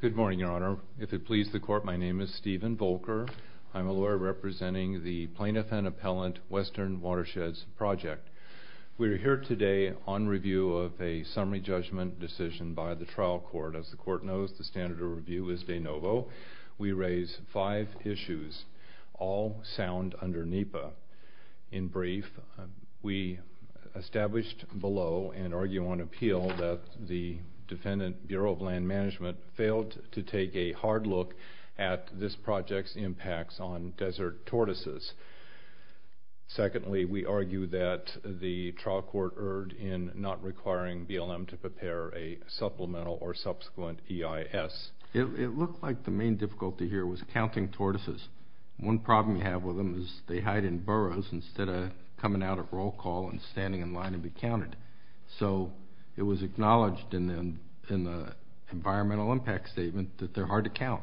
Good morning, Your Honor. If it pleases the Court, my name is Stephen Volker. I'm a lawyer representing the Plaintiff and Appellant Western Watersheds Project. We're here today on review of a summary judgment decision by the trial court. As the Court knows, the standard of review is de novo. We raise five issues, all sound under NEPA. In brief, we established below and argue on appeal that the defendant, Bureau of Land Management, failed to take a hard look at this project's impacts on desert tortoises. Secondly, we argue that the trial court erred in not requiring BLM to prepare a supplemental or subsequent EIS. It looked like the main difficulty here was counting tortoises. One problem you have with them is they hide in burrows instead of coming out at roll call and standing in line to be counted. So it was acknowledged in the environmental impact statement that they're hard to count.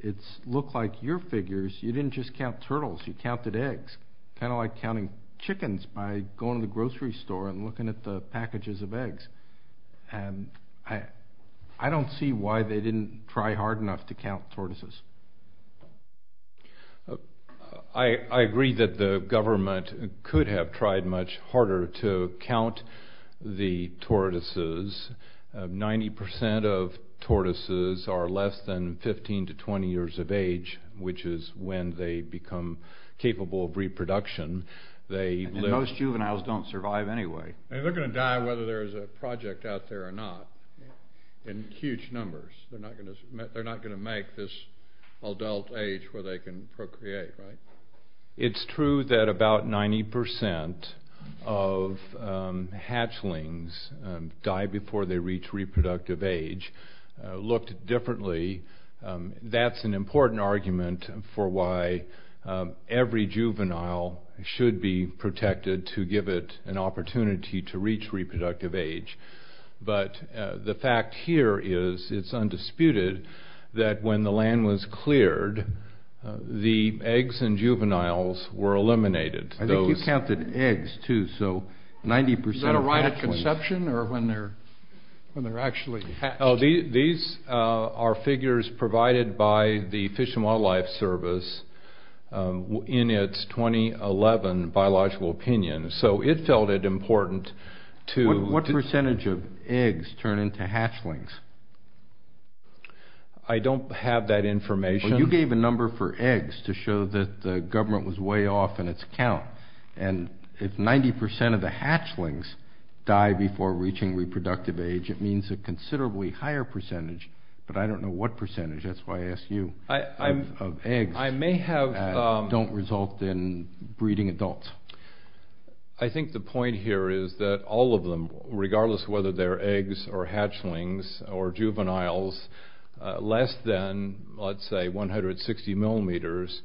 It looked like your figures, you didn't just count turtles, you counted eggs. It's kind of like counting chickens by going to the grocery store and looking at the packages of eggs. I don't see why they didn't try hard enough to count tortoises. I agree that the government could have tried much harder to count the tortoises. 90% of tortoises are less than 15 to 20 years of age, which is when they become capable of reproduction. Most juveniles don't survive anyway. They're going to die whether there's a project out there or not in huge numbers. They're not going to make this adult age where they can procreate, right? It's true that about 90% of hatchlings die before they reach reproductive age. Looked differently. That's an important argument for why every juvenile should be protected to give it an opportunity to reach reproductive age. But the fact here is it's undisputed that when the land was cleared, the eggs and juveniles were eliminated. I think you counted eggs too, so 90% of hatchlings. Is that a right of conception or when they're actually hatched? These are figures provided by the Fish and Wildlife Service in its 2011 biological opinion. So it felt it important to... I don't have that information. Well, you gave a number for eggs to show that the government was way off in its count. And if 90% of the hatchlings die before reaching reproductive age, it means a considerably higher percentage. But I don't know what percentage. That's why I asked you. I may have... Eggs don't result in breeding adults. I think the point here is that all of them, regardless of whether they're eggs or hatchlings or juveniles, less than, let's say, 160 millimeters,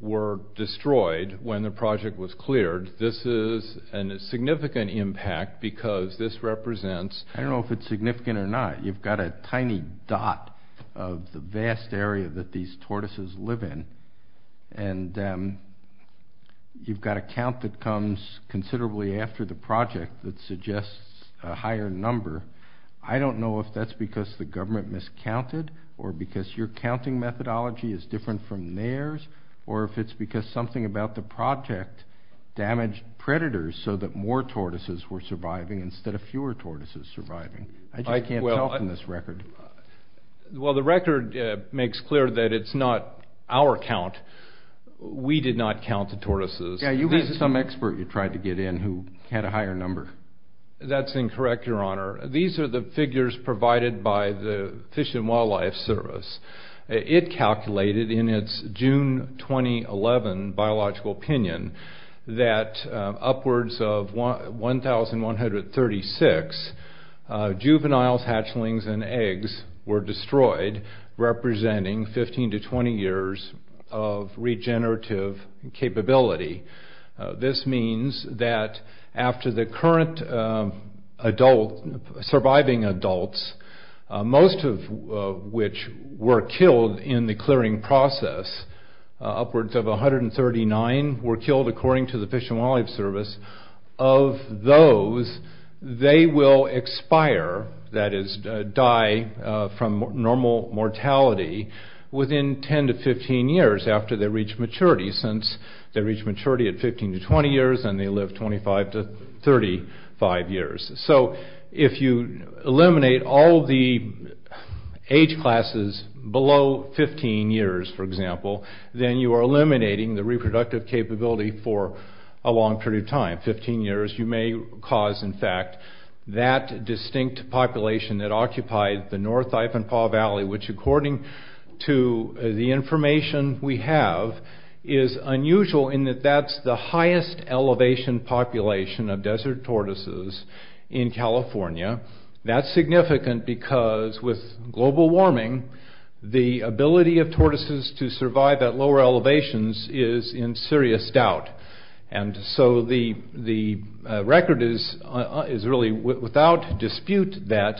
were destroyed when the project was cleared. This is a significant impact because this represents... ...considerably after the project that suggests a higher number. I don't know if that's because the government miscounted or because your counting methodology is different from theirs or if it's because something about the project damaged predators so that more tortoises were surviving instead of fewer tortoises surviving. I can't tell from this record. Well, the record makes clear that it's not our count. We did not count the tortoises. Yeah, you had some expert you tried to get in who had a higher number. That's incorrect, Your Honor. These are the figures provided by the Fish and Wildlife Service. It calculated in its June 2011 biological opinion that upwards of 1,136 juveniles, hatchlings, and eggs were destroyed, representing 15 to 20 years of regenerative capability. This means that after the current adult, surviving adults, most of which were killed in the clearing process, upwards of 139 were killed according to the Fish and Wildlife Service. Of those, they will expire, that is, die from normal mortality within 10 to 15 years after they reach maturity since they reach maturity at 15 to 20 years and they live 25 to 35 years. So if you eliminate all the age classes below 15 years, for example, then you are eliminating the reproductive capability for a long period of time, 15 years. You may cause, in fact, that distinct population that occupied the North Ivanpah Valley, which according to the information we have is unusual in that that's the highest elevation population of desert tortoises in California. That's significant because with global warming, the ability of tortoises to survive at lower elevations is in serious doubt. And so the record is really without dispute that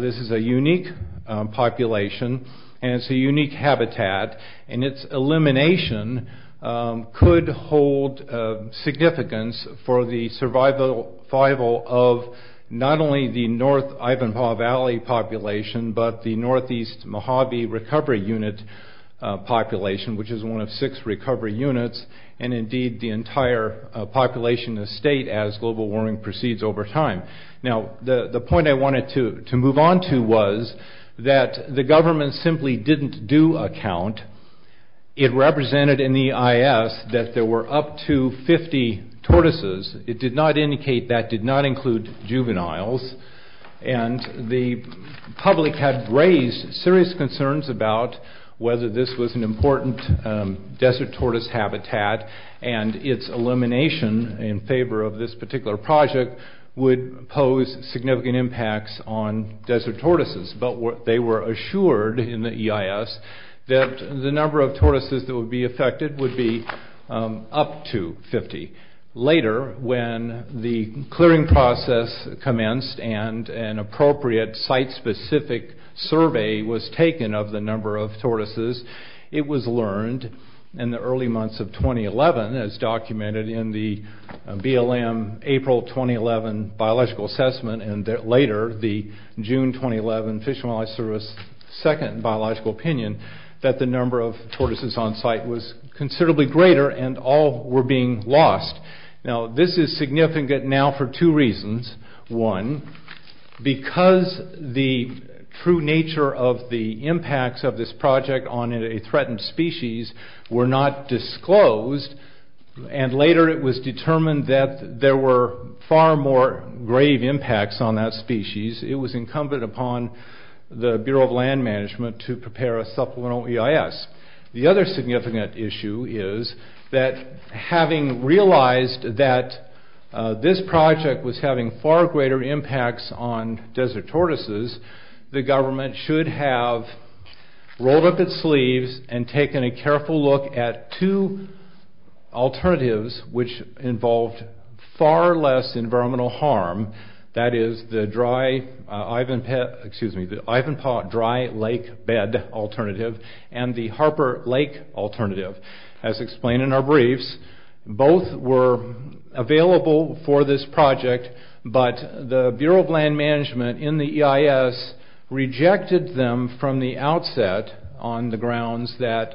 this is a unique population and it's a unique habitat and its elimination could hold significance for the survival of not only the North Ivanpah Valley population, but the Northeast Mojave Recovery Unit population, which is one of six recovery units, and indeed the entire population of the state as global warming proceeds over time. Now the point I wanted to move on to was that the government simply didn't do a count. It represented in the EIS that there were up to 50 tortoises. It did not indicate that did not include juveniles. And the public had raised serious concerns about whether this was an important desert tortoise habitat and its elimination in favor of this particular project would pose significant impacts on desert tortoises. But they were assured in the EIS that the number of tortoises that would be affected would be up to 50. Later, when the clearing process commenced and an appropriate site-specific survey was taken of the number of tortoises, it was learned in the early months of 2011, as documented in the BLM April 2011 biological assessment and later the June 2011 Fish and Wildlife Service second biological opinion, that the number of tortoises on site was considerably greater and all were being lost. Now this is significant now for two reasons. One, because the true nature of the impacts of this project on a threatened species were not disclosed and later it was determined that there were far more grave impacts on that species, it was incumbent upon the Bureau of Land Management to prepare a supplemental EIS. The other significant issue is that having realized that this project was having far greater impacts on desert tortoises, the government should have rolled up its sleeves and taken a careful look at two alternatives which involved far less environmental harm. That is the Ivanpah Dry Lake Bed Alternative and the Harper Lake Alternative. As explained in our briefs, both were available for this project, but the Bureau of Land Management in the EIS rejected them from the outset on the grounds that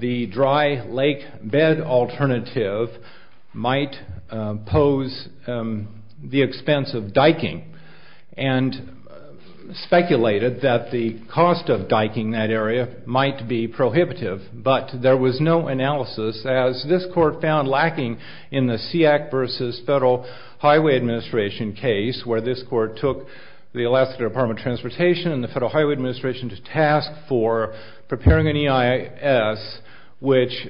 the Dry Lake Bed Alternative might pose the expense of diking and speculated that the cost of diking that area might be prohibitive, but there was no analysis as this court found lacking in the SEAC versus Federal Highway Administration case where this court took the Alaska Department of Transportation and the Federal Highway Administration to task for preparing an EIS which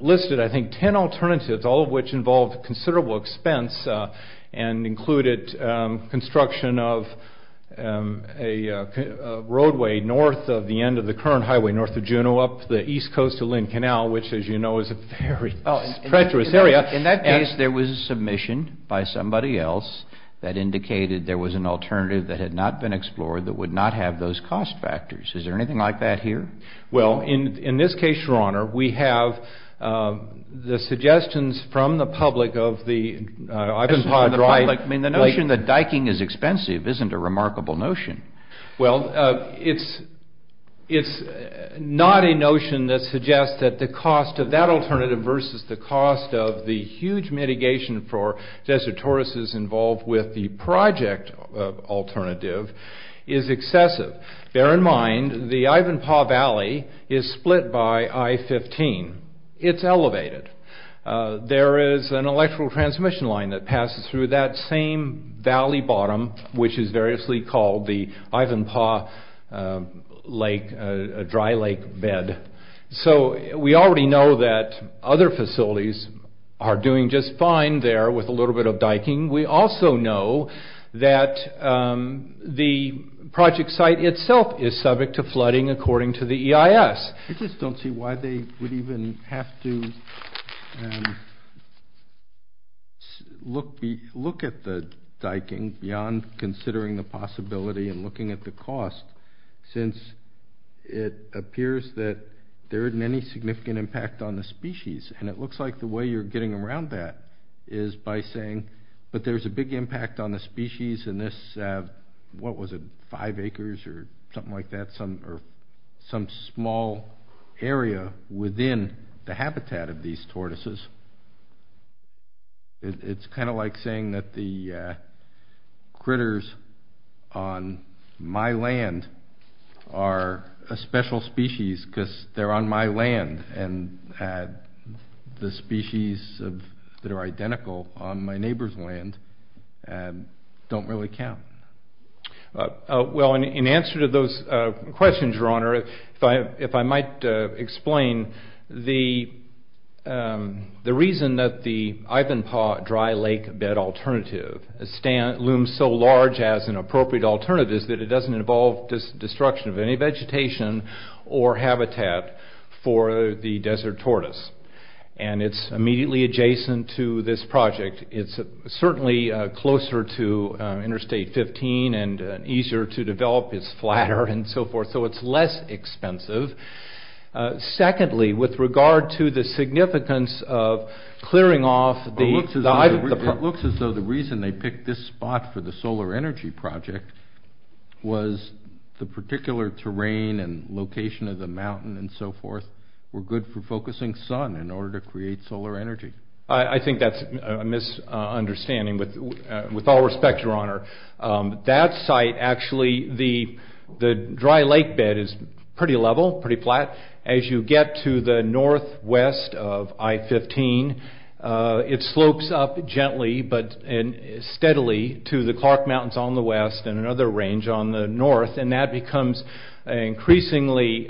listed, I think, ten alternatives, all of which involved considerable expense and included construction of a roadway north of the end of the current highway north of Juneau up the east coast of Lynn Canal, which, as you know, is a very treacherous area. In that case, there was a submission by somebody else that indicated there was an alternative that had not been explored that would not have those cost factors. Is there anything like that here? Well, in this case, Your Honor, we have the suggestions from the public of the Ivanpah Dry Lake... I mean, the notion that diking is expensive isn't a remarkable notion. Well, it's not a notion that suggests that the cost of that alternative versus the cost of the huge mitigation for desertorists involved with the project alternative is excessive. Bear in mind the Ivanpah Valley is split by I-15. It's elevated. There is an electrical transmission line that passes through that same valley bottom which is variously called the Ivanpah Dry Lake bed. So we already know that other facilities are doing just fine there with a little bit of diking. We also know that the project site itself is subject to flooding according to the EIS. I just don't see why they would even have to look at the diking beyond considering the possibility and looking at the cost since it appears that there isn't any significant impact on the species. And it looks like the way you're getting around that is by saying, but there's a big impact on the species in this, what was it, five acres or something like that or some small area within the habitat of these tortoises. It's kind of like saying that the critters on my land are a special species because they're on my land and the species that are identical on my neighbor's land don't really count. Well, in answer to those questions, Your Honor, if I might explain, the reason that the Ivanpah Dry Lake bed alternative looms so large as an appropriate alternative is that it doesn't involve destruction of any vegetation or habitat for the desert tortoise. And it's immediately adjacent to this project. It's certainly closer to Interstate 15 and easier to develop. It's flatter and so forth, so it's less expensive. Secondly, with regard to the significance of clearing off the... It looks as though the reason they picked this spot for the solar energy project was the particular terrain and location of the mountain and so forth were good for focusing sun in order to create solar energy. I think that's a misunderstanding with all respect, Your Honor. That site, actually, the dry lake bed is pretty level, pretty flat. As you get to the northwest of I-15, it slopes up gently but steadily to the Clark Mountains on the west and another range on the north and that becomes increasingly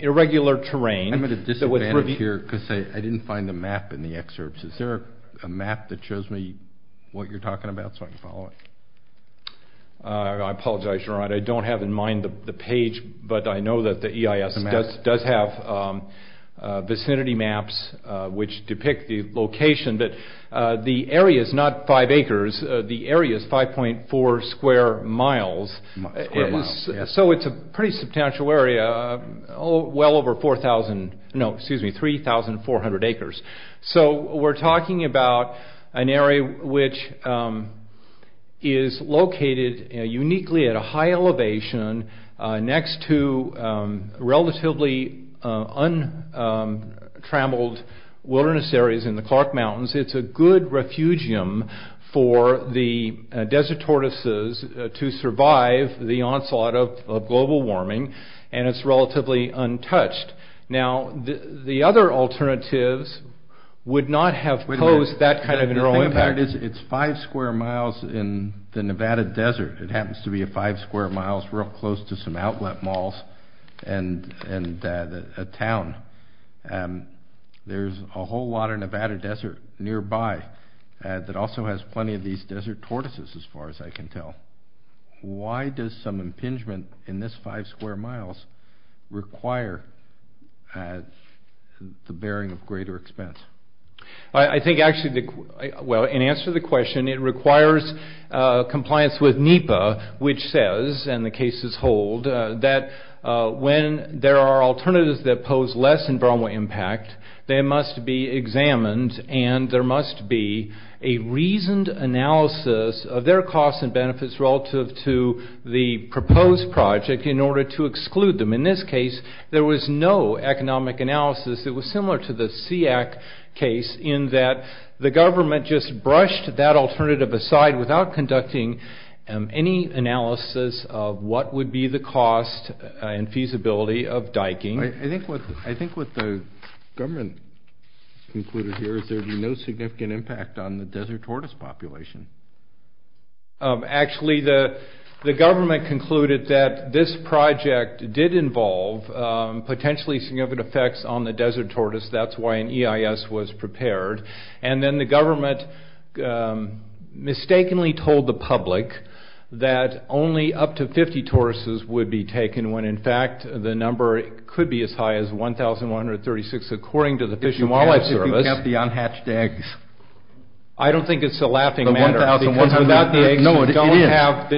irregular terrain. I'm at a disadvantage here because I didn't find the map in the excerpts. Is there a map that shows me what you're talking about so I can follow it? I apologize, Your Honor. I don't have in mind the page, but I know that the EIS does have vicinity maps which depict the location, but the area is not five acres. The area is 5.4 square miles. Square miles, yes. It's a pretty substantial area, well over 3,400 acres. We're talking about an area which is located uniquely at a high elevation next to relatively untrammeled wilderness areas in the Clark Mountains. It's a good refugium for the desert tortoises to survive the onslaught of global warming and it's relatively untouched. Now, the other alternatives would not have posed that kind of a neural impact. The thing about it is it's five square miles in the Nevada desert. It happens to be five square miles real close to some outlet malls and a town. There's a whole lot of Nevada desert nearby that also has plenty of these desert tortoises as far as I can tell. Why does some impingement in this five square miles require the bearing of greater expense? I think actually, well, in answer to the question, it requires compliance with NEPA which says, and the cases hold, that when there are alternatives that pose less environmental impact, they must be examined and there must be a reasoned analysis of their costs and benefits relative to the proposed project in order to exclude them. In this case, there was no economic analysis. It was similar to the SEAC case in that the government just brushed that alternative aside without conducting any analysis of what would be the cost and feasibility of diking. I think what the government concluded here is there would be no significant impact on the desert tortoise population. Actually, the government concluded that this project did involve potentially significant effects on the desert tortoise. That's why an EIS was prepared. And then the government mistakenly told the public that only up to 50 tortoises would be taken when, in fact, the number could be as high as 1,136, according to the Fish and Wildlife Service. If you want to look at the unhatched eggs. I don't think it's a laughing matter. The 1,136. Because without the eggs, you don't have the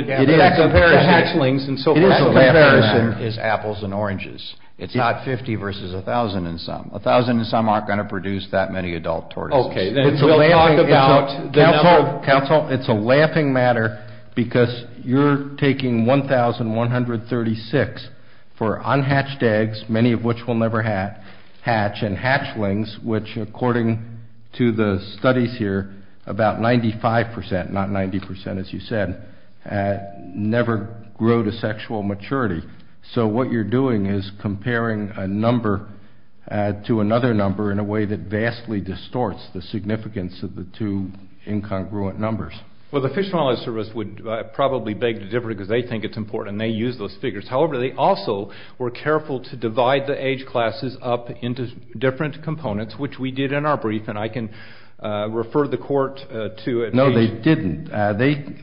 hatchlings and so forth. It is a laughing matter. That comparison is apples and oranges. It's not 50 versus 1,000 and some. 1,000 and some aren't going to produce that many adult tortoises. Okay. Counsel, it's a laughing matter because you're taking 1,136 for unhatched eggs, many of which will never hatch, and hatchlings, which, according to the studies here, about 95%, not 90%, as you said, never grow to sexual maturity. So what you're doing is comparing a number to another number in a way that shows the significance of the two incongruent numbers. Well, the Fish and Wildlife Service would probably beg to differ because they think it's important, and they use those figures. However, they also were careful to divide the age classes up into different components, which we did in our brief, and I can refer the court to it. No, they didn't.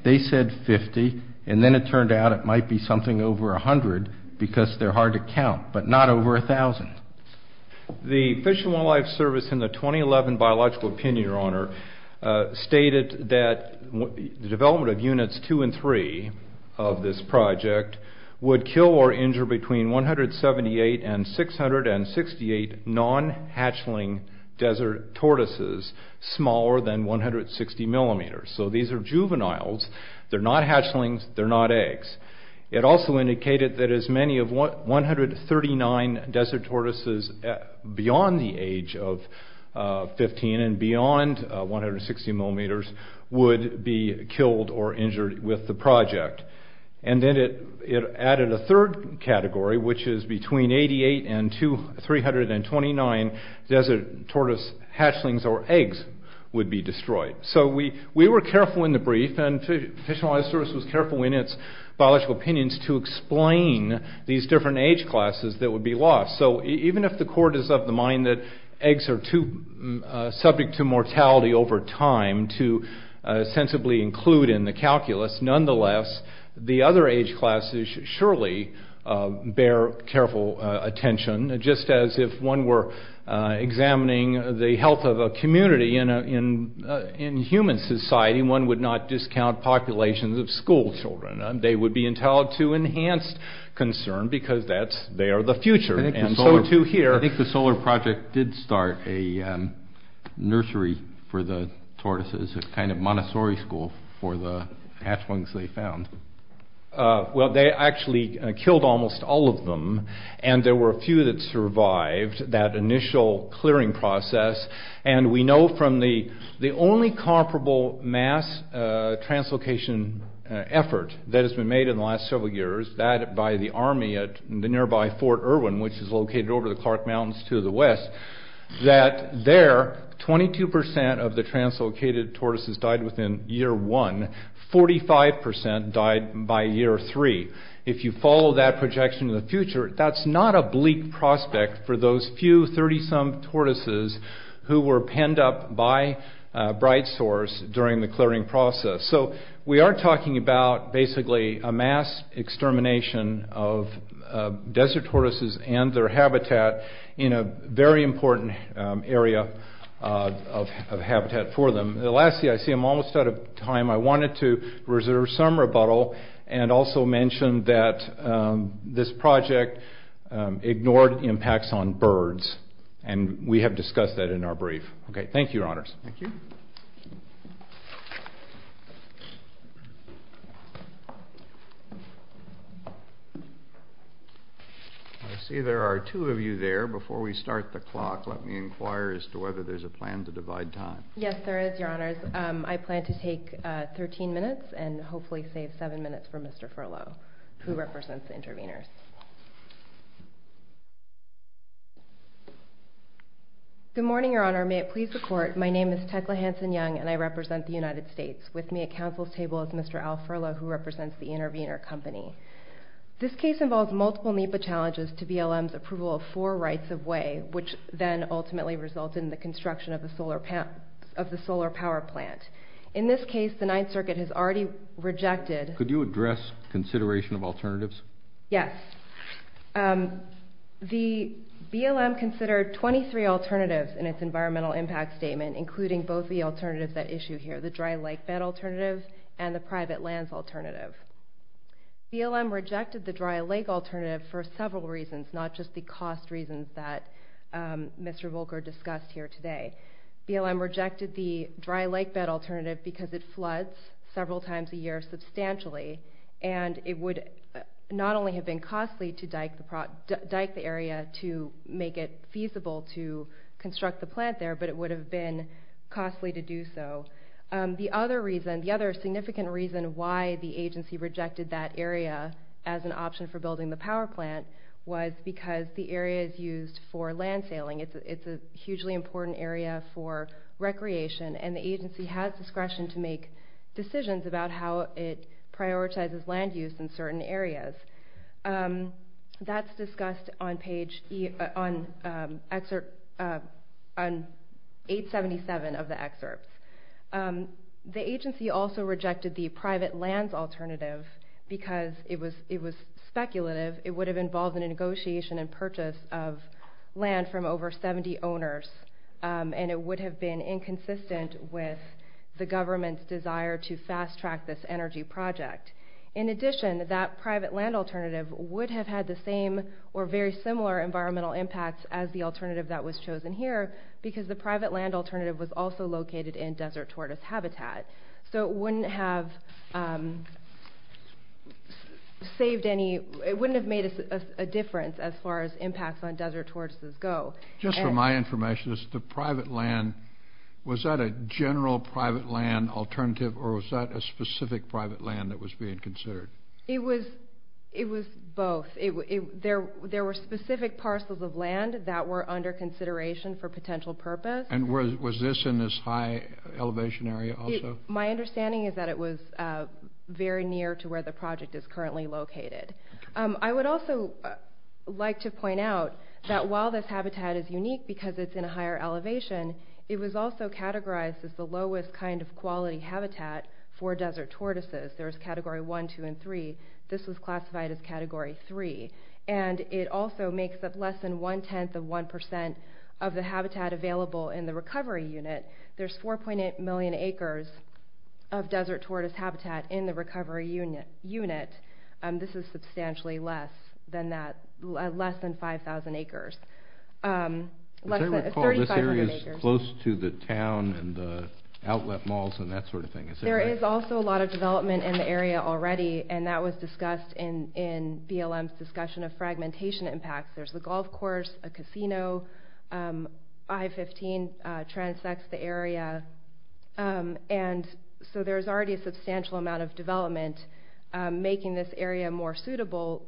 They said 50, and then it turned out it might be something over 100 because they're hard to count, but not over 1,000. The Fish and Wildlife Service in the 2011 Biological Opinion, Your Honor, stated that the development of Units 2 and 3 of this project would kill or injure between 178 and 668 non-hatchling desert tortoises smaller than 160 millimeters. So these are juveniles. They're not hatchlings. They're not eggs. It also indicated that as many as 139 desert tortoises beyond the age of 15 and beyond 160 millimeters would be killed or injured with the project. And then it added a third category, which is between 88 and 329 desert tortoise hatchlings or eggs would be destroyed. So we were careful in the brief, and the Fish and Wildlife Service was careful in its biological opinions to explain these different age classes that would be lost. So even if the court is of the mind that eggs are subject to mortality over time to sensibly include in the calculus, nonetheless, the other age classes surely bear careful attention, just as if one were examining the health of a community in human society, one would not discount populations of schoolchildren. They would be entitled to enhanced concern because they are the future, and so too here. I think the Solar Project did start a nursery for the tortoises, a kind of Montessori school for the hatchlings they found. Well, they actually killed almost all of them, and there were a few that survived that initial clearing process. And we know from the only comparable mass translocation effort that has been made in the last several years, that by the army at the nearby Fort Irwin, which is located over the Clark Mountains to the west, that there, 22% of the translocated tortoises died within year one, 45% died by year three. If you follow that projection in the future, that's not a bleak prospect for those few 30-some tortoises who were penned up by Bright Source during the clearing process. So we are talking about basically a mass extermination of desert tortoises and their habitat in a very important area of habitat for them. The last thing I see, I'm almost out of time, I wanted to reserve some rebuttal and also mention that this project ignored impacts on birds, and we have discussed that in our brief. Okay, thank you, your honors. Thank you. I see there are two of you there. Before we start the clock, let me inquire as to whether there's a plan to divide time. Yes, there is, your honors. I plan to take 13 minutes and hopefully save 7 minutes for Mr. Furlow, who represents the intervenors. Good morning, your honor. May it please the court, my name is Tecla Hanson-Young and I represent the United States. With me at counsel's table is Mr. Al Furlow, who represents the intervenor company. This case involves multiple NEPA challenges to BLM's approval of four rights of way, which then ultimately resulted in the construction of the solar power plant. In this case, the Ninth Circuit has already rejected Could you address consideration of alternatives? Yes. BLM considered 23 alternatives in its environmental impact statement, including both the alternatives that issue here, the dry lake bed alternative and the private lands alternative. BLM rejected the dry lake alternative for several reasons, not just the cost reasons that Mr. Volker discussed here today. And it would not only have been costly to dike the area to make it feasible to construct the plant there, but it would have been costly to do so. The other significant reason why the agency rejected that area as an option for building the power plant was because the area is used for land sailing. It's a hugely important area for recreation and the agency has discretion to make decisions about how it prioritizes land use in certain areas. That's discussed on page 877 of the excerpt. The agency also rejected the private lands alternative because it was speculative. It would have involved a negotiation and purchase of land from over 70 owners and it would have been inconsistent with the government's desire to fast track this energy project. In addition, that private land alternative would have had the same or very similar environmental impacts as the alternative that was chosen here because the private land alternative was also located in desert tortoise habitat. So it wouldn't have made a difference as far as impacts on desert tortoises go. Just for my information, was that a general private land alternative or was that a specific private land that was being considered? It was both. There were specific parcels of land that were under consideration for potential purpose. And was this in this high elevation area also? My understanding is that it was very near to where the project is currently located. I would also like to point out that while this habitat is unique because it's in a higher elevation, it was also categorized as the lowest kind of quality habitat for desert tortoises. There was Category 1, 2, and 3. This was classified as Category 3. And it also makes up less than one-tenth of one percent of the habitat available in the recovery unit. There's 4.8 million acres of desert tortoise habitat in the recovery unit. This is substantially less than 5,000 acres. This area is close to the town and the outlet malls and that sort of thing. There is also a lot of development in the area already, and that was discussed in BLM's discussion of fragmentation impacts. There's the golf course, a casino. I-15 transects the area. And so there's already a substantial amount of development making this area more suitable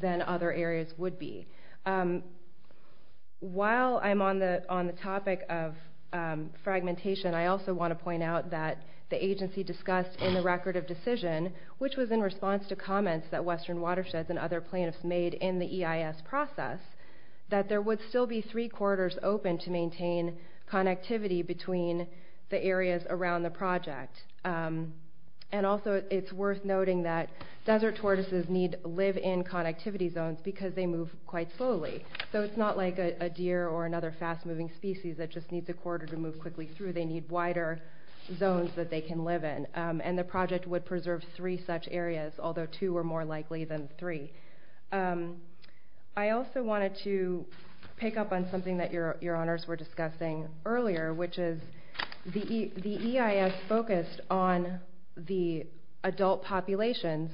than other areas would be. While I'm on the topic of fragmentation, I also want to point out that the agency discussed in the Record of Decision, which was in response to comments that Western Watersheds and other plaintiffs made in the EIS process, that there would still be three corridors open to maintain connectivity between the areas around the project. And also it's worth noting that desert tortoises need live-in connectivity zones because they move quite slowly. So it's not like a deer or another fast-moving species that just needs a corridor to move quickly through. They need wider zones that they can live in. And the project would preserve three such areas, although two are more likely than three. I also wanted to pick up on something that your honors were discussing earlier, which is the EIS focused on the adult populations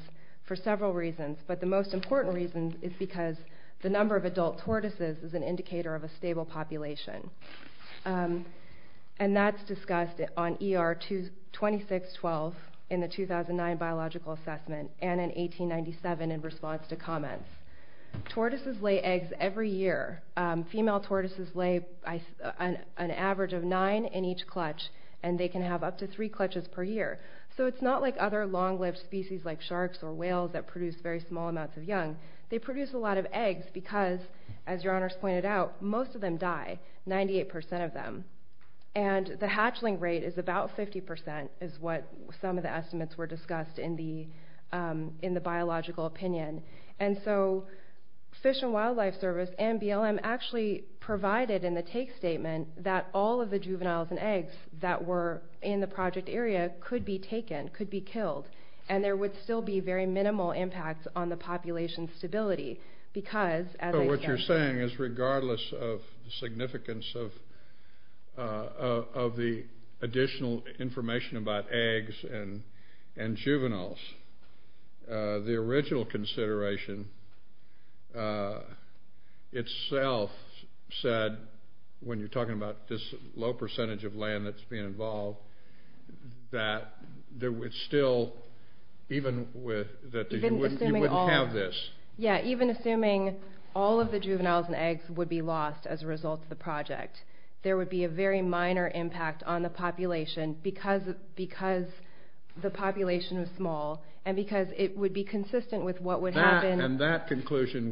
for several reasons, but the most important reason is because the number of adult tortoises is an indicator of a stable population. And that's discussed on ER 2612 in the 2009 Biological Assessment and in 1897 in response to comments. Tortoises lay eggs every year. Female tortoises lay an average of nine in each clutch, and they can have up to three clutches per year. So it's not like other long-lived species like sharks or whales that produce very small amounts of young. They produce a lot of eggs because, as your honors pointed out, most of them die, 98% of them. And the hatchling rate is about 50% is what some of the estimates were discussed in the biological opinion. And so Fish and Wildlife Service and BLM actually provided in the take statement that all of the juveniles and eggs that were in the project area could be taken, could be killed, and there would still be very minimal impact on the population stability because, as I said... So what you're saying is regardless of the significance of the additional information about eggs and juveniles, the original consideration itself said, when you're talking about this low percentage of land that's being involved, that there would still, even with... You wouldn't have this. Yeah, even assuming all of the juveniles and eggs would be lost as a result of the project, there would be a very minor impact on the population because the population is small and because it would be consistent with what would happen... And that conclusion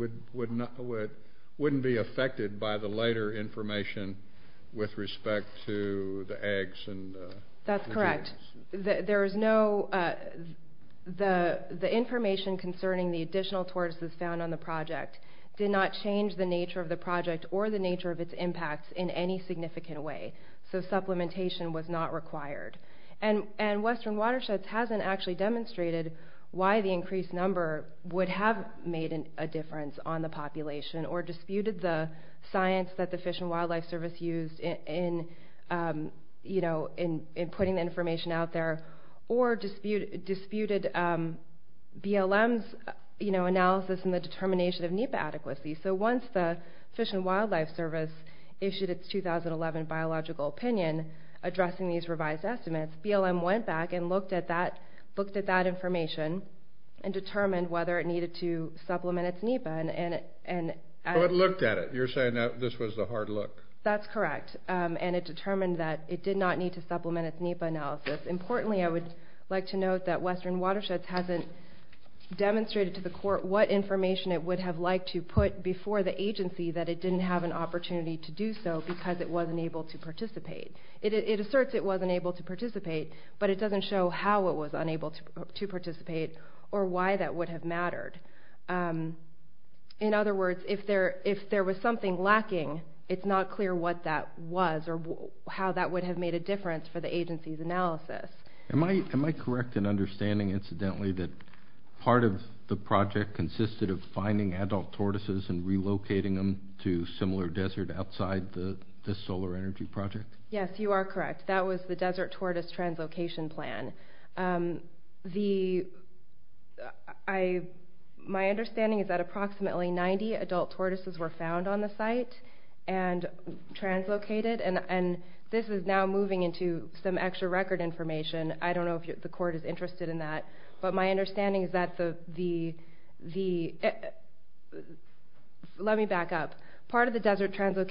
wouldn't be affected by the later information with respect to the eggs and... That's correct. There is no... The information concerning the additional tortoises found on the project did not change the nature of the project or the nature of its impacts in any significant way. So supplementation was not required. And Western Watersheds hasn't actually demonstrated why the increased number would have made a difference on the population or disputed the science that the Fish and Wildlife Service used in putting the information out there or disputed BLM's analysis and the determination of NEPA adequacy. So once the Fish and Wildlife Service issued its 2011 biological opinion addressing these revised estimates, BLM went back and looked at that information and determined whether it needed to supplement its NEPA and... So it looked at it. You're saying that this was the hard look. That's correct. And it determined that it did not need to supplement its NEPA analysis. Importantly, I would like to note that Western Watersheds hasn't demonstrated to the court what information it would have liked to put before the agency that it didn't have an opportunity to do so because it wasn't able to participate. It asserts it wasn't able to participate, but it doesn't show how it was unable to participate or why that would have mattered. In other words, if there was something lacking, it's not clear what that was or how that would have made a difference for the agency's analysis. Am I correct in understanding, incidentally, that part of the project consisted of finding adult tortoises and relocating them to similar desert outside the solar energy project? Yes, you are correct. That was the Desert Tortoise Translocation Plan. My understanding is that approximately 90 adult tortoises were found on the site and translocated, and this is now moving into some extra record information. I don't know if the court is interested in that, but my understanding is that the... Let me back up. Part of the Desert Tortoise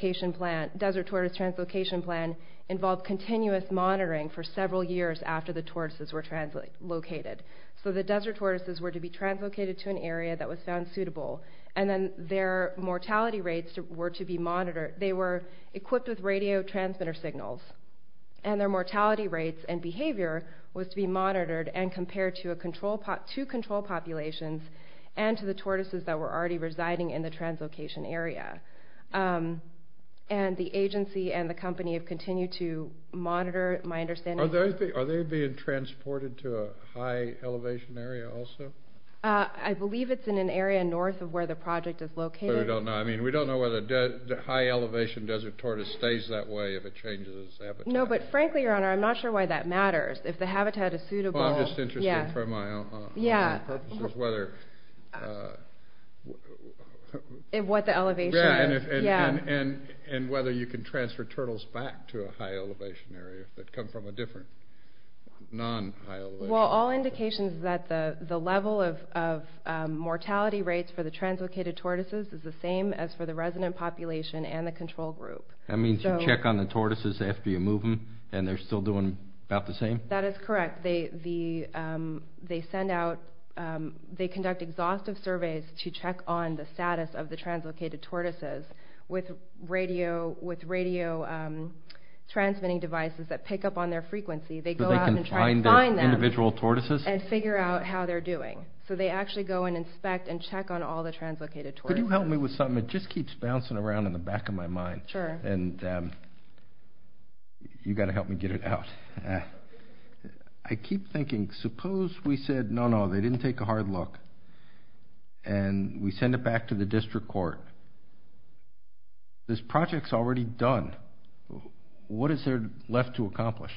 Translocation Plan involved continuous monitoring for several years after the tortoises were translocated. So the desert tortoises were to be translocated to an area that was found suitable, and then their mortality rates were to be monitored. They were equipped with radio transmitter signals, and their mortality rates and behavior was to be monitored and compared to two control populations and to the tortoises that were already residing in the translocation area. And the agency and the company have continued to monitor, my understanding... Are they being transported to a high elevation area also? I believe it's in an area north of where the project is located. But we don't know. I mean, we don't know whether the high elevation desert tortoise stays that way if it changes its habitat. No, but frankly, Your Honor, I'm not sure why that matters. If the habitat is suitable... Well, I'm just interested for my own purposes whether... What the elevation is. Yeah, and whether you can transfer turtles back to a high elevation area that come from a different non-high elevation area. Well, all indications is that the level of mortality rates for the translocated tortoises is the same as for the resident population and the control group. That means you check on the tortoises after you move them, and they're still doing about the same? That is correct. They send out... They conduct exhaustive surveys to check on the status of the translocated tortoises with radio transmitting devices that pick up on their frequency. They go out and try to find them... So they can find their individual tortoises? And figure out how they're doing. So they actually go and inspect and check on all the translocated tortoises. Could you help me with something? It just keeps bouncing around in the back of my mind. Sure. And you've got to help me get it out. I keep thinking, suppose we said, No, no, they didn't take a hard look. And we send it back to the district court. This project's already done. What is there left to accomplish?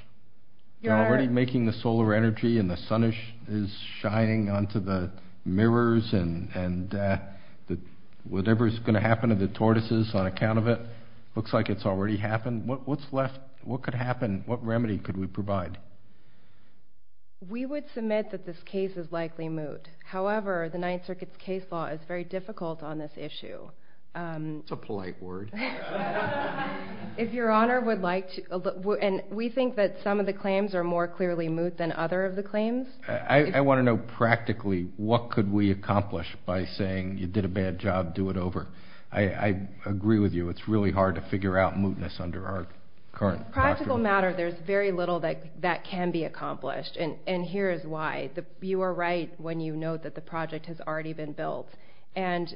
You're already making the solar energy, and the sun is shining onto the mirrors, and whatever's going to happen to the tortoises on account of it looks like it's already happened. What's left? What could happen? What remedy could we provide? We would submit that this case is likely moot. However, the Ninth Circuit's case law is very difficult on this issue. That's a polite word. If Your Honor would like to, and we think that some of the claims are more clearly moot than other of the claims. I want to know practically what could we accomplish by saying, You did a bad job. Do it over. I agree with you. It's really hard to figure out mootness under our current... Practical matter. There's very little that can be accomplished, and here is why. You are right when you note that the project has already been built, and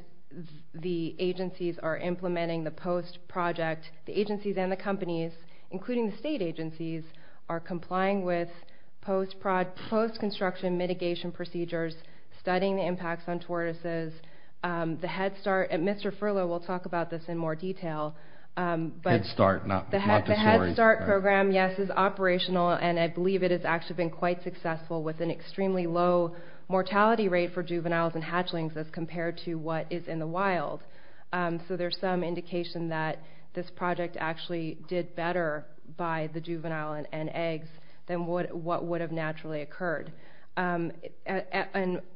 the agencies are implementing the post-project. The agencies and the companies, including the state agencies, are complying with post-construction mitigation procedures, studying the impacts on tortoises. The Head Start, and Mr. Furlow will talk about this in more detail. Head Start, not the story. The Head Start program, yes, is operational, and I believe it has actually been quite successful with an extremely low mortality rate for juveniles and hatchlings as compared to what is in the wild. So there's some indication that this project actually did better by the juvenile and eggs than what would have naturally occurred.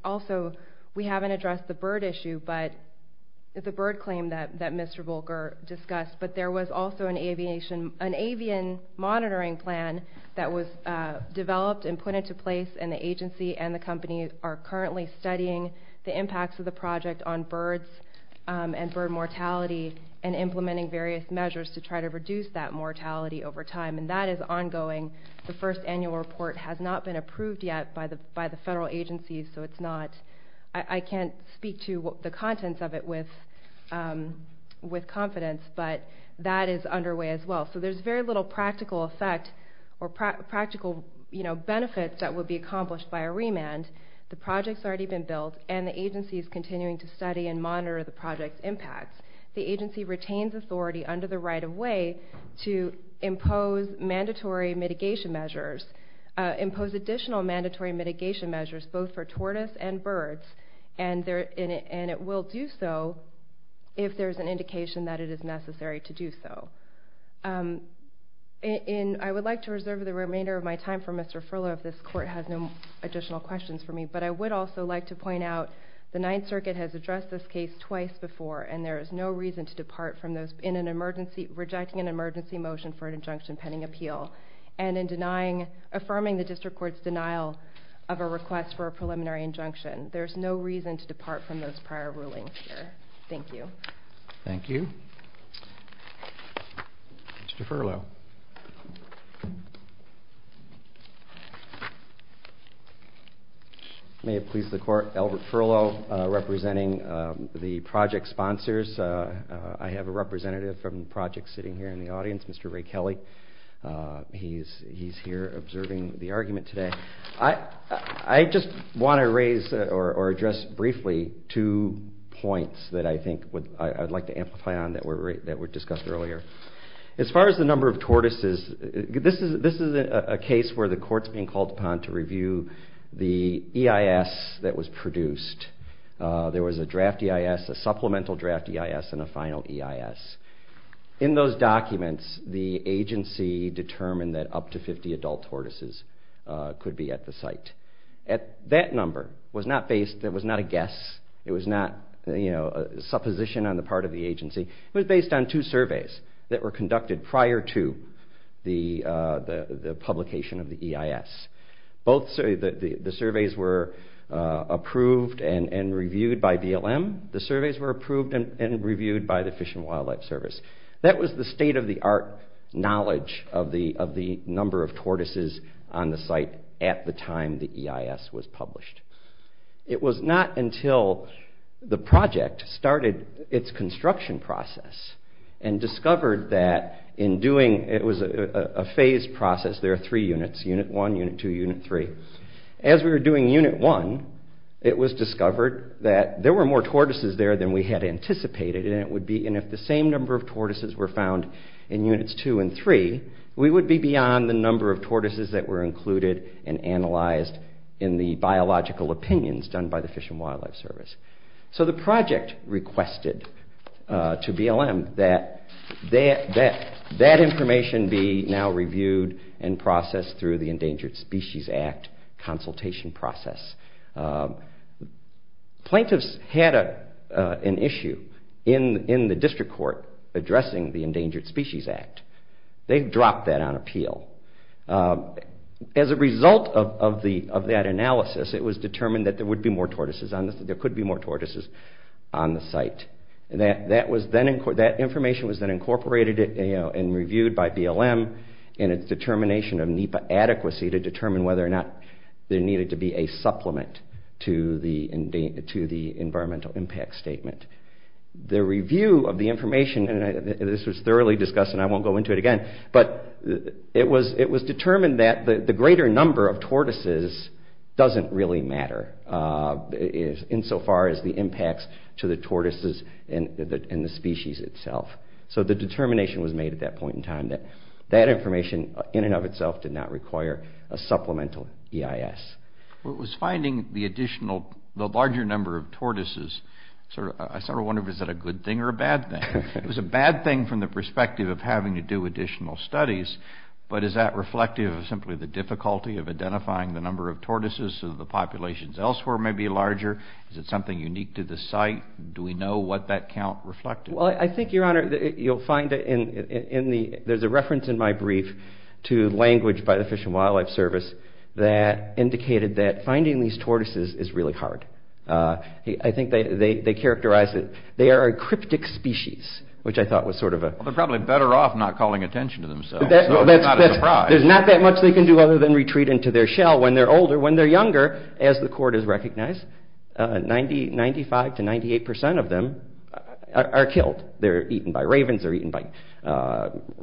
Also, we haven't addressed the bird claim that Mr. Volker discussed, but there was also an avian monitoring plan that was developed and put into place, and the agency and the company are currently studying the impacts of the project on birds and bird mortality and implementing various measures to try to reduce that mortality over time, and that is ongoing. The first annual report has not been approved yet by the federal agencies, so it's not...I can't speak to the contents of it with confidence, but that is underway as well. So there's very little practical effect or practical benefits that would be accomplished by a remand. The project's already been built, and the agency is continuing to study and monitor the project's impacts. The agency retains authority under the right-of-way to impose mandatory mitigation measures, impose additional mandatory mitigation measures both for tortoise and birds, and it will do so if there's an indication that it is necessary to do so. I would like to reserve the remainder of my time for Mr. Furlow if this court has no additional questions for me, but I would also like to point out the Ninth Circuit has addressed this case twice before, and there is no reason to depart from those in an emergency... rejecting an emergency motion for an injunction pending appeal, and in denying...affirming the district court's denial of a request for a preliminary injunction. There's no reason to depart from those prior rulings here. Thank you. Thank you. Mr. Furlow. May it please the court, Albert Furlow representing the project sponsors. I have a representative from the project sitting here in the audience, Mr. Ray Kelly. He's here observing the argument today. I just want to raise or address briefly two points that I think I'd like to amplify on that were discussed earlier. As far as the number of tortoises, this is a case where the court's being called upon to review the EIS that was produced. There was a draft EIS, a supplemental draft EIS, and a final EIS. In those documents, the agency determined that up to 50 adult tortoises could be at the site. That number was not a guess. It was not a supposition on the part of the agency. It was based on two surveys that were conducted prior to the publication of the EIS. The surveys were approved and reviewed by BLM. The surveys were approved and reviewed by the Fish and Wildlife Service. That was the state-of-the-art knowledge of the number of tortoises on the site at the time the EIS was published. It was not until the project started its construction process and discovered that in doing it was a phased process. There are three units, Unit 1, Unit 2, Unit 3. As we were doing Unit 1, it was discovered that there were more tortoises there than we had anticipated. If the same number of tortoises were found in Units 2 and 3, we would be beyond the number of tortoises that were included and analyzed in the biological opinions done by the Fish and Wildlife Service. So the project requested to BLM that that information be now reviewed and processed through the Endangered Species Act consultation process. Plaintiffs had an issue in the district court addressing the Endangered Species Act. They dropped that on appeal. As a result of that analysis, it was determined that there could be more tortoises on the site. That information was then incorporated and reviewed by BLM in its determination of NEPA adequacy to determine whether or not there needed to be a supplement to the environmental impact statement. The review of the information, and this was thoroughly discussed and I won't go into it again, but it was determined that the greater number of tortoises doesn't really matter insofar as the impacts to the tortoises and the species itself. So the determination was made at that point in time that that information in and of itself did not require a supplemental EIS. It was finding the larger number of tortoises, I sort of wonder if that was a good thing or a bad thing. It was a bad thing from the perspective of having to do additional studies, but is that reflective of simply the difficulty of identifying the number of tortoises so that the populations elsewhere may be larger? Is it something unique to the site? Do we know what that count reflected? Well, I think, Your Honor, you'll find in the... There's a reference in my brief to language by the Fish and Wildlife Service that indicated that finding these tortoises is really hard. I think they characterize it... They are a cryptic species, which I thought was sort of a... Well, they're probably better off not calling attention to themselves. So it's not a surprise. There's not that much they can do other than retreat into their shell when they're older. When they're younger, as the court has recognized, 95% to 98% of them are killed. They're eaten by ravens. They're eaten by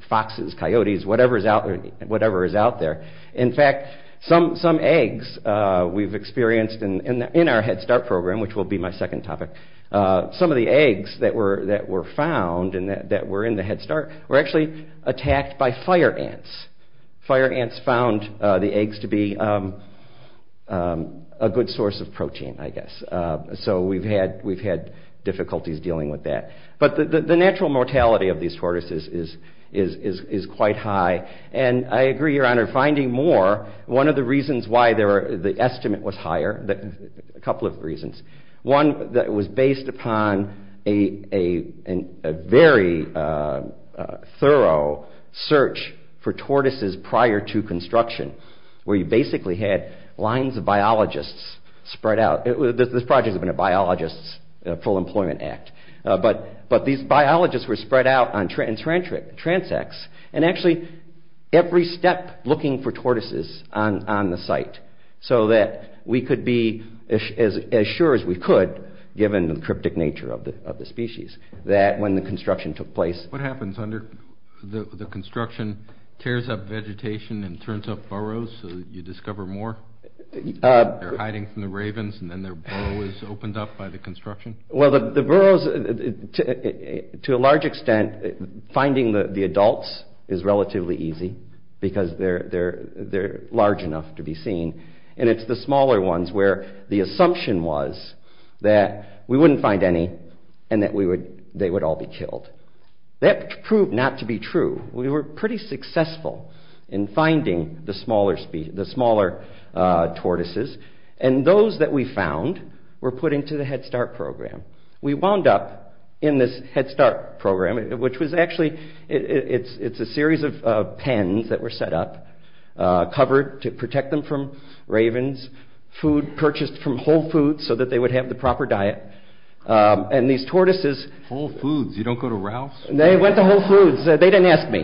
foxes, coyotes, whatever is out there. In fact, some eggs we've experienced in our Head Start program, which will be my second topic, some of the eggs that were found and that were in the Head Start were actually attacked by fire ants. Fire ants found the eggs to be a good source of protein, I guess. So we've had difficulties dealing with that. But the natural mortality of these tortoises is quite high. And I agree, Your Honor, finding more, one of the reasons why the estimate was higher, a couple of reasons, one was based upon a very thorough search for tortoises prior to construction where you basically had lines of biologists spread out. This project has been a biologist's full employment act. But these biologists were spread out on transects and actually every step looking for tortoises on the site so that we could be as sure as we could, given the cryptic nature of the species, that when the construction took place... What happens under the construction? Tears up vegetation and turns up burrows so that you discover more? They're hiding from the ravens and then their burrow is opened up by the construction? Well, the burrows, to a large extent, finding the adults is relatively easy because they're large enough to be seen. And it's the smaller ones where the assumption was that we wouldn't find any and that they would all be killed. That proved not to be true. We were pretty successful in finding the smaller tortoises and those that we found were put into the Head Start program. We wound up in this Head Start program, which was actually... It's a series of pens that were set up, covered to protect them from ravens, food purchased from Whole Foods so that they would have the proper diet. And these tortoises... Whole Foods? You don't go to Ralph's? They went to Whole Foods. They didn't ask me.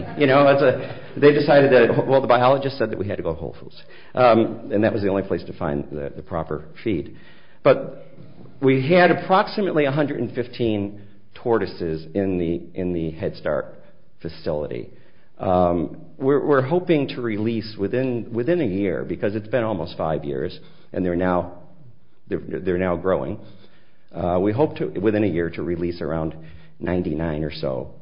They decided that... Well, the biologist said that we had to go to Whole Foods and that was the only place to find the proper feed. But we had approximately 115 tortoises in the Head Start facility. We're hoping to release within a year because it's been almost five years and they're now growing. We hope within a year to release around 99 or so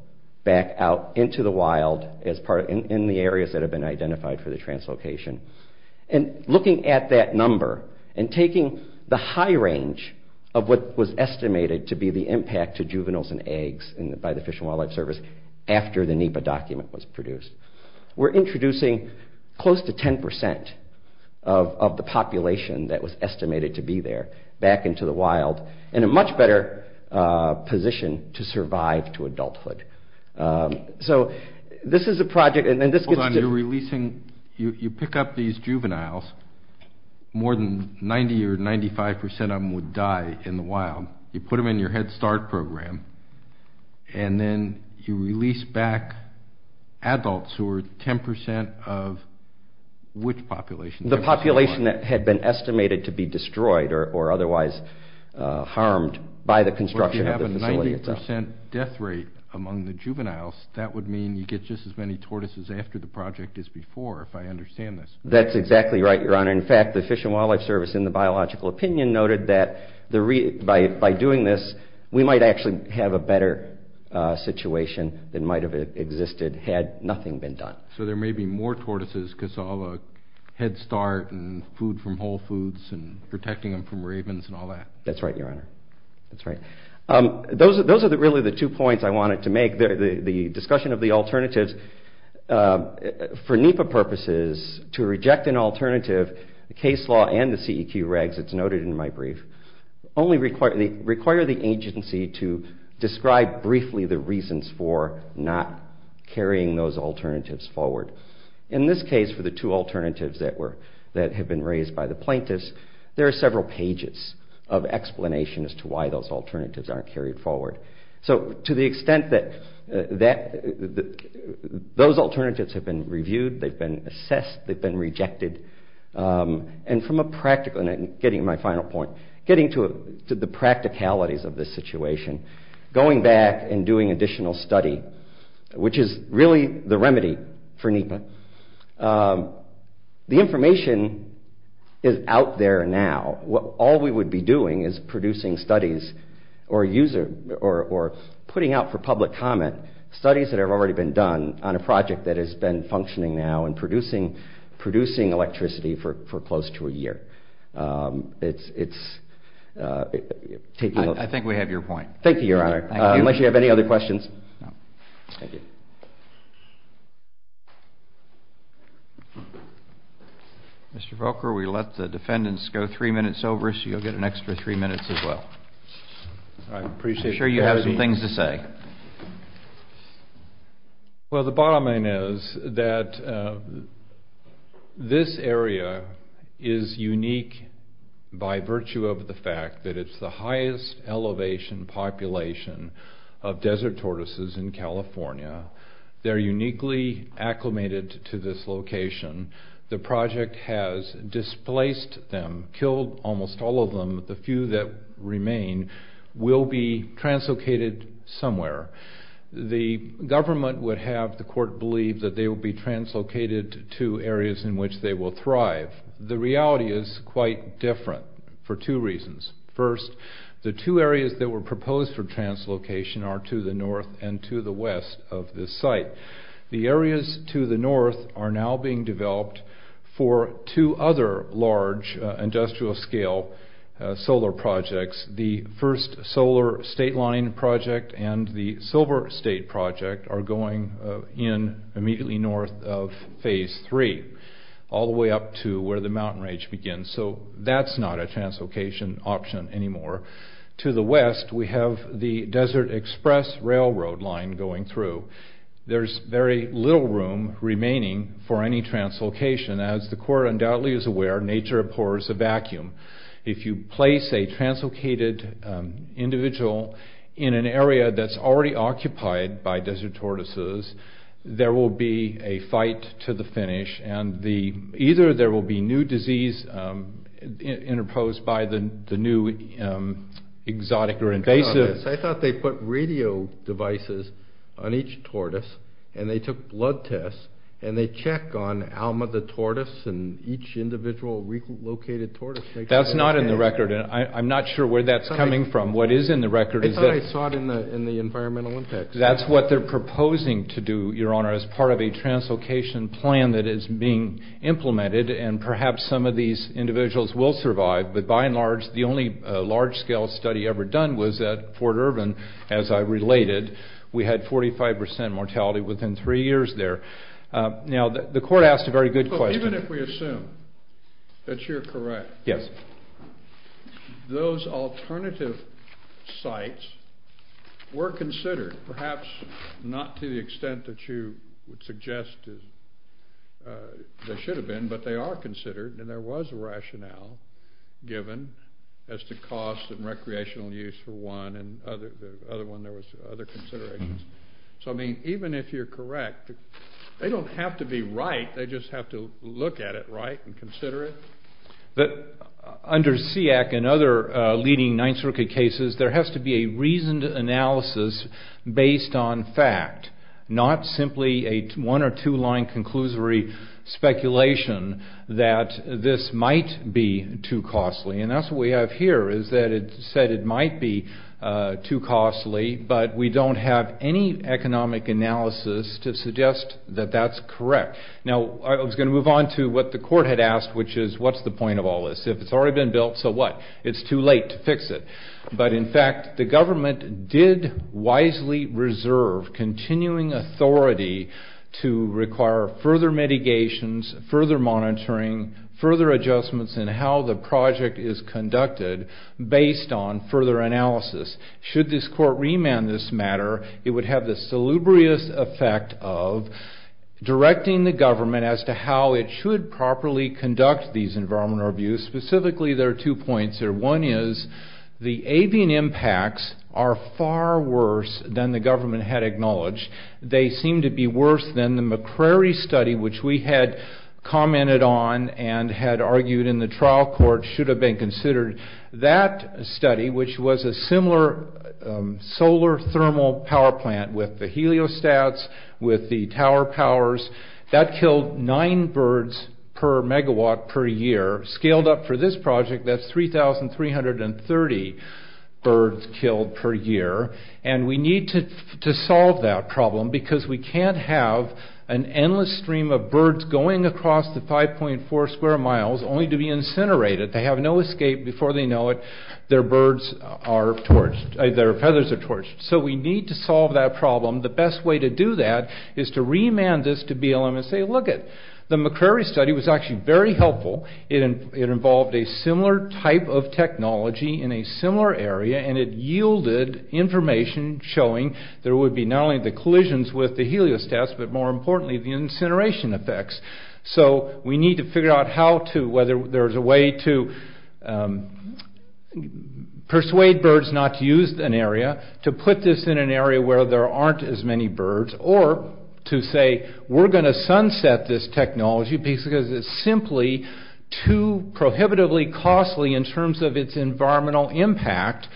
back out into the wild in the areas that have been identified for the translocation. Looking at that number and taking the high range of what was estimated to be the impact to juveniles and eggs by the Fish and Wildlife Service after the NEPA document was produced, we're introducing close to 10% of the population that was estimated to be there back into the wild in a much better position to survive to adulthood. So this is a project... Hold on, you're releasing... You pick up these juveniles. More than 90 or 95% of them would die in the wild. You put them in your Head Start program and then you release back adults who are 10% of which population? The population that had been estimated to be destroyed or otherwise harmed by the construction of the facility itself. If you have a 90% death rate among the juveniles, that would mean you get just as many tortoises after the project as before, if I understand this. That's exactly right, Your Honor. In fact, the Fish and Wildlife Service in the biological opinion noted that by doing this, we might actually have a better situation than might have existed had nothing been done. So there may be more tortoises because of Head Start and food from Whole Foods and protecting them from ravens and all that. That's right, Your Honor. That's right. Those are really the two points I wanted to make. The discussion of the alternatives, for NEPA purposes, to reject an alternative, the case law and the CEQ regs, it's noted in my brief, only require the agency to describe briefly the reasons for not carrying those alternatives forward. In this case, for the two alternatives that have been raised by the plaintiffs, there are several pages of explanation as to why those alternatives aren't carried forward. So to the extent that those alternatives have been reviewed, they've been assessed, they've been rejected, and from a practical, getting to my final point, getting to the practicalities of this situation, going back and doing additional study, which is really the remedy for NEPA, the information is out there now. All we would be doing is producing studies or putting out for public comment studies that have already been done on a project that has been functioning now and producing electricity for close to a year. I think we have your point. Thank you, Your Honor. Unless you have any other questions? No. Thank you. Mr. Volker, we let the defendants go three minutes over, so you'll get an extra three minutes as well. I'm sure you have some things to say. Well, the bottom line is that this area is unique by virtue of the fact that it's the highest elevation population of desert tortoises in California. They're uniquely acclimated to this location. The project has displaced them, killed almost all of them. The few that remain will be translocated somewhere. The government would have the court believe that they will be translocated to areas in which they will thrive. The reality is quite different for two reasons. First, the two areas that were proposed for translocation are to the north and to the west of this site. The areas to the north are now being developed for two other large industrial-scale solar projects. The first solar state line project and the silver state project are going in immediately north of Phase 3, all the way up to where the mountain range begins. So that's not a translocation option anymore. To the west, we have the Desert Express Railroad line going through. There's very little room remaining for any translocation. As the court undoubtedly is aware, nature abhors a vacuum. If you place a translocated individual in an area that's already occupied by desert tortoises, there will be a fight to the finish, and either there will be new disease interposed by the new exotic or invasive... and they took blood tests, and they check on Alma the tortoise and each individual relocated tortoise. That's not in the record, and I'm not sure where that's coming from. What is in the record is that... I thought I saw it in the environmental index. That's what they're proposing to do, Your Honor, as part of a translocation plan that is being implemented, and perhaps some of these individuals will survive. But by and large, the only large-scale study ever done was at Fort Irvin, as I related. We had 45% mortality within 3 years there. Now, the court asked a very good question. Even if we assume that you're correct, those alternative sites were considered, perhaps not to the extent that you would suggest they should have been, but they are considered, and there was a rationale given as to cost and recreational use for one, and the other one, there was other considerations. So, I mean, even if you're correct, they don't have to be right. They just have to look at it right and consider it. But under SEAC and other leading Ninth Circuit cases, there has to be a reasoned analysis based on fact, not simply a one- or two-line conclusory speculation that this might be too costly. And that's what we have here, is that it said it might be too costly, but we don't have any economic analysis to suggest that that's correct. Now, I was going to move on to what the court had asked, which is, what's the point of all this? If it's already been built, so what? It's too late to fix it. But in fact, the government did wisely reserve continuing authority to require further mitigations, further monitoring, further adjustments in how the project is conducted based on further analysis. Should this court remand this matter, it would have the salubrious effect of directing the government as to how it should properly conduct these environmental abuse. Specifically, there are two points here. One is, the avian impacts are far worse than the government had acknowledged. They seem to be worse than the McCrary study, which we had commented on and had argued in the trial court should have been considered. That study, which was a similar solar thermal power plant with the heliostats, with the tower powers, that killed nine birds per megawatt per year. Scaled up for this project, that's 3,330 birds killed per year. And we need to solve that problem because we can't have an endless stream of birds going across the 5.4 square miles only to be incinerated. They have no escape before they know it. Their feathers are torched. So we need to solve that problem. The best way to do that is to remand this to BLM and say, lookit, the McCrary study was actually very helpful. It involved a similar type of technology in a similar area, and it yielded information showing there would be not only the collisions with the heliostats, but more importantly, the incineration effects. So we need to figure out how to, whether there's a way to persuade birds not to use an area, to put this in an area where there aren't as many birds, or to say, we're going to sunset this technology because it's simply too prohibitively costly in terms of its environmental impact.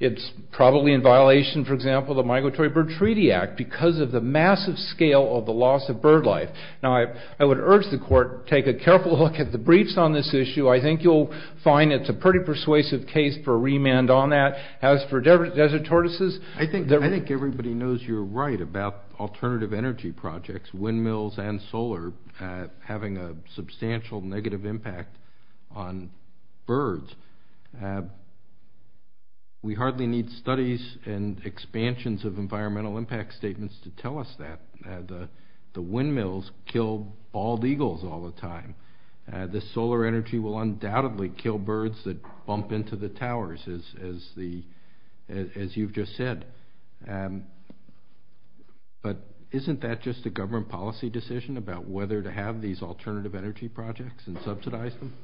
It's probably in violation, for example, of the Migratory Bird Treaty Act because of the massive scale of the loss of bird life. Now, I would urge the court to take a careful look at the briefs on this issue. I think you'll find it's a pretty persuasive case for a remand on that. As for desert tortoises... I think everybody knows you're right about alternative energy projects, windmills and solar, having a substantial negative impact on birds. We hardly need studies and expansions of environmental impact statements to tell us that. The windmills kill bald eagles all the time. The solar energy will undoubtedly kill birds that bump into the towers, as you've just said. But isn't that just a government policy decision about whether to have these alternative energy projects and subsidize them?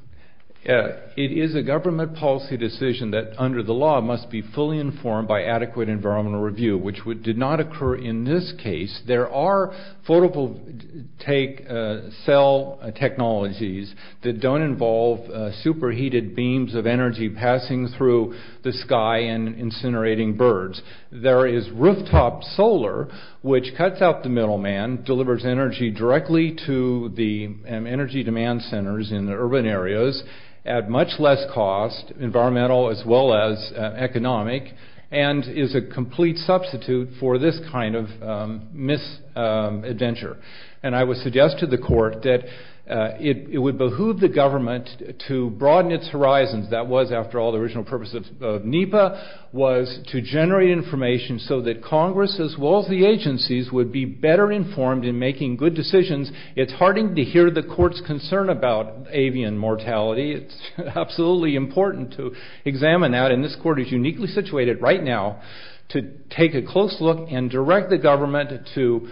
It is a government policy decision that, under the law, must be fully informed by adequate environmental review, which did not occur in this case. There are photovoltaic cell technologies that don't involve superheated beams of energy passing through the sky and incinerating birds. There is rooftop solar, which cuts out the middleman, delivers energy directly to the energy demand centers in the urban areas at much less cost, environmental as well as economic, and is a complete substitute for this kind of misadventure. And I would suggest to the court that it would behoove the government to broaden its horizons. That was, after all, the original purpose of NEPA, was to generate information so that Congress, as well as the agencies, would be better informed in making good decisions. It's heartening to hear the court's concern about avian mortality. It's absolutely important to examine that, and this court is uniquely situated right now to take a close look and direct the government to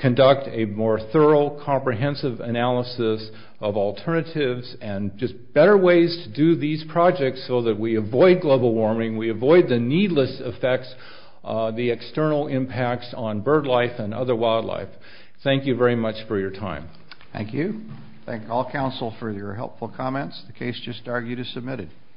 conduct a more thorough, comprehensive analysis of alternatives and just better ways to do these projects so that we avoid global warming, we avoid the needless effects, the external impacts on bird life and other wildlife. Thank you very much for your time. Thank you. Thank all counsel for your helpful comments. The case just argued is submitted.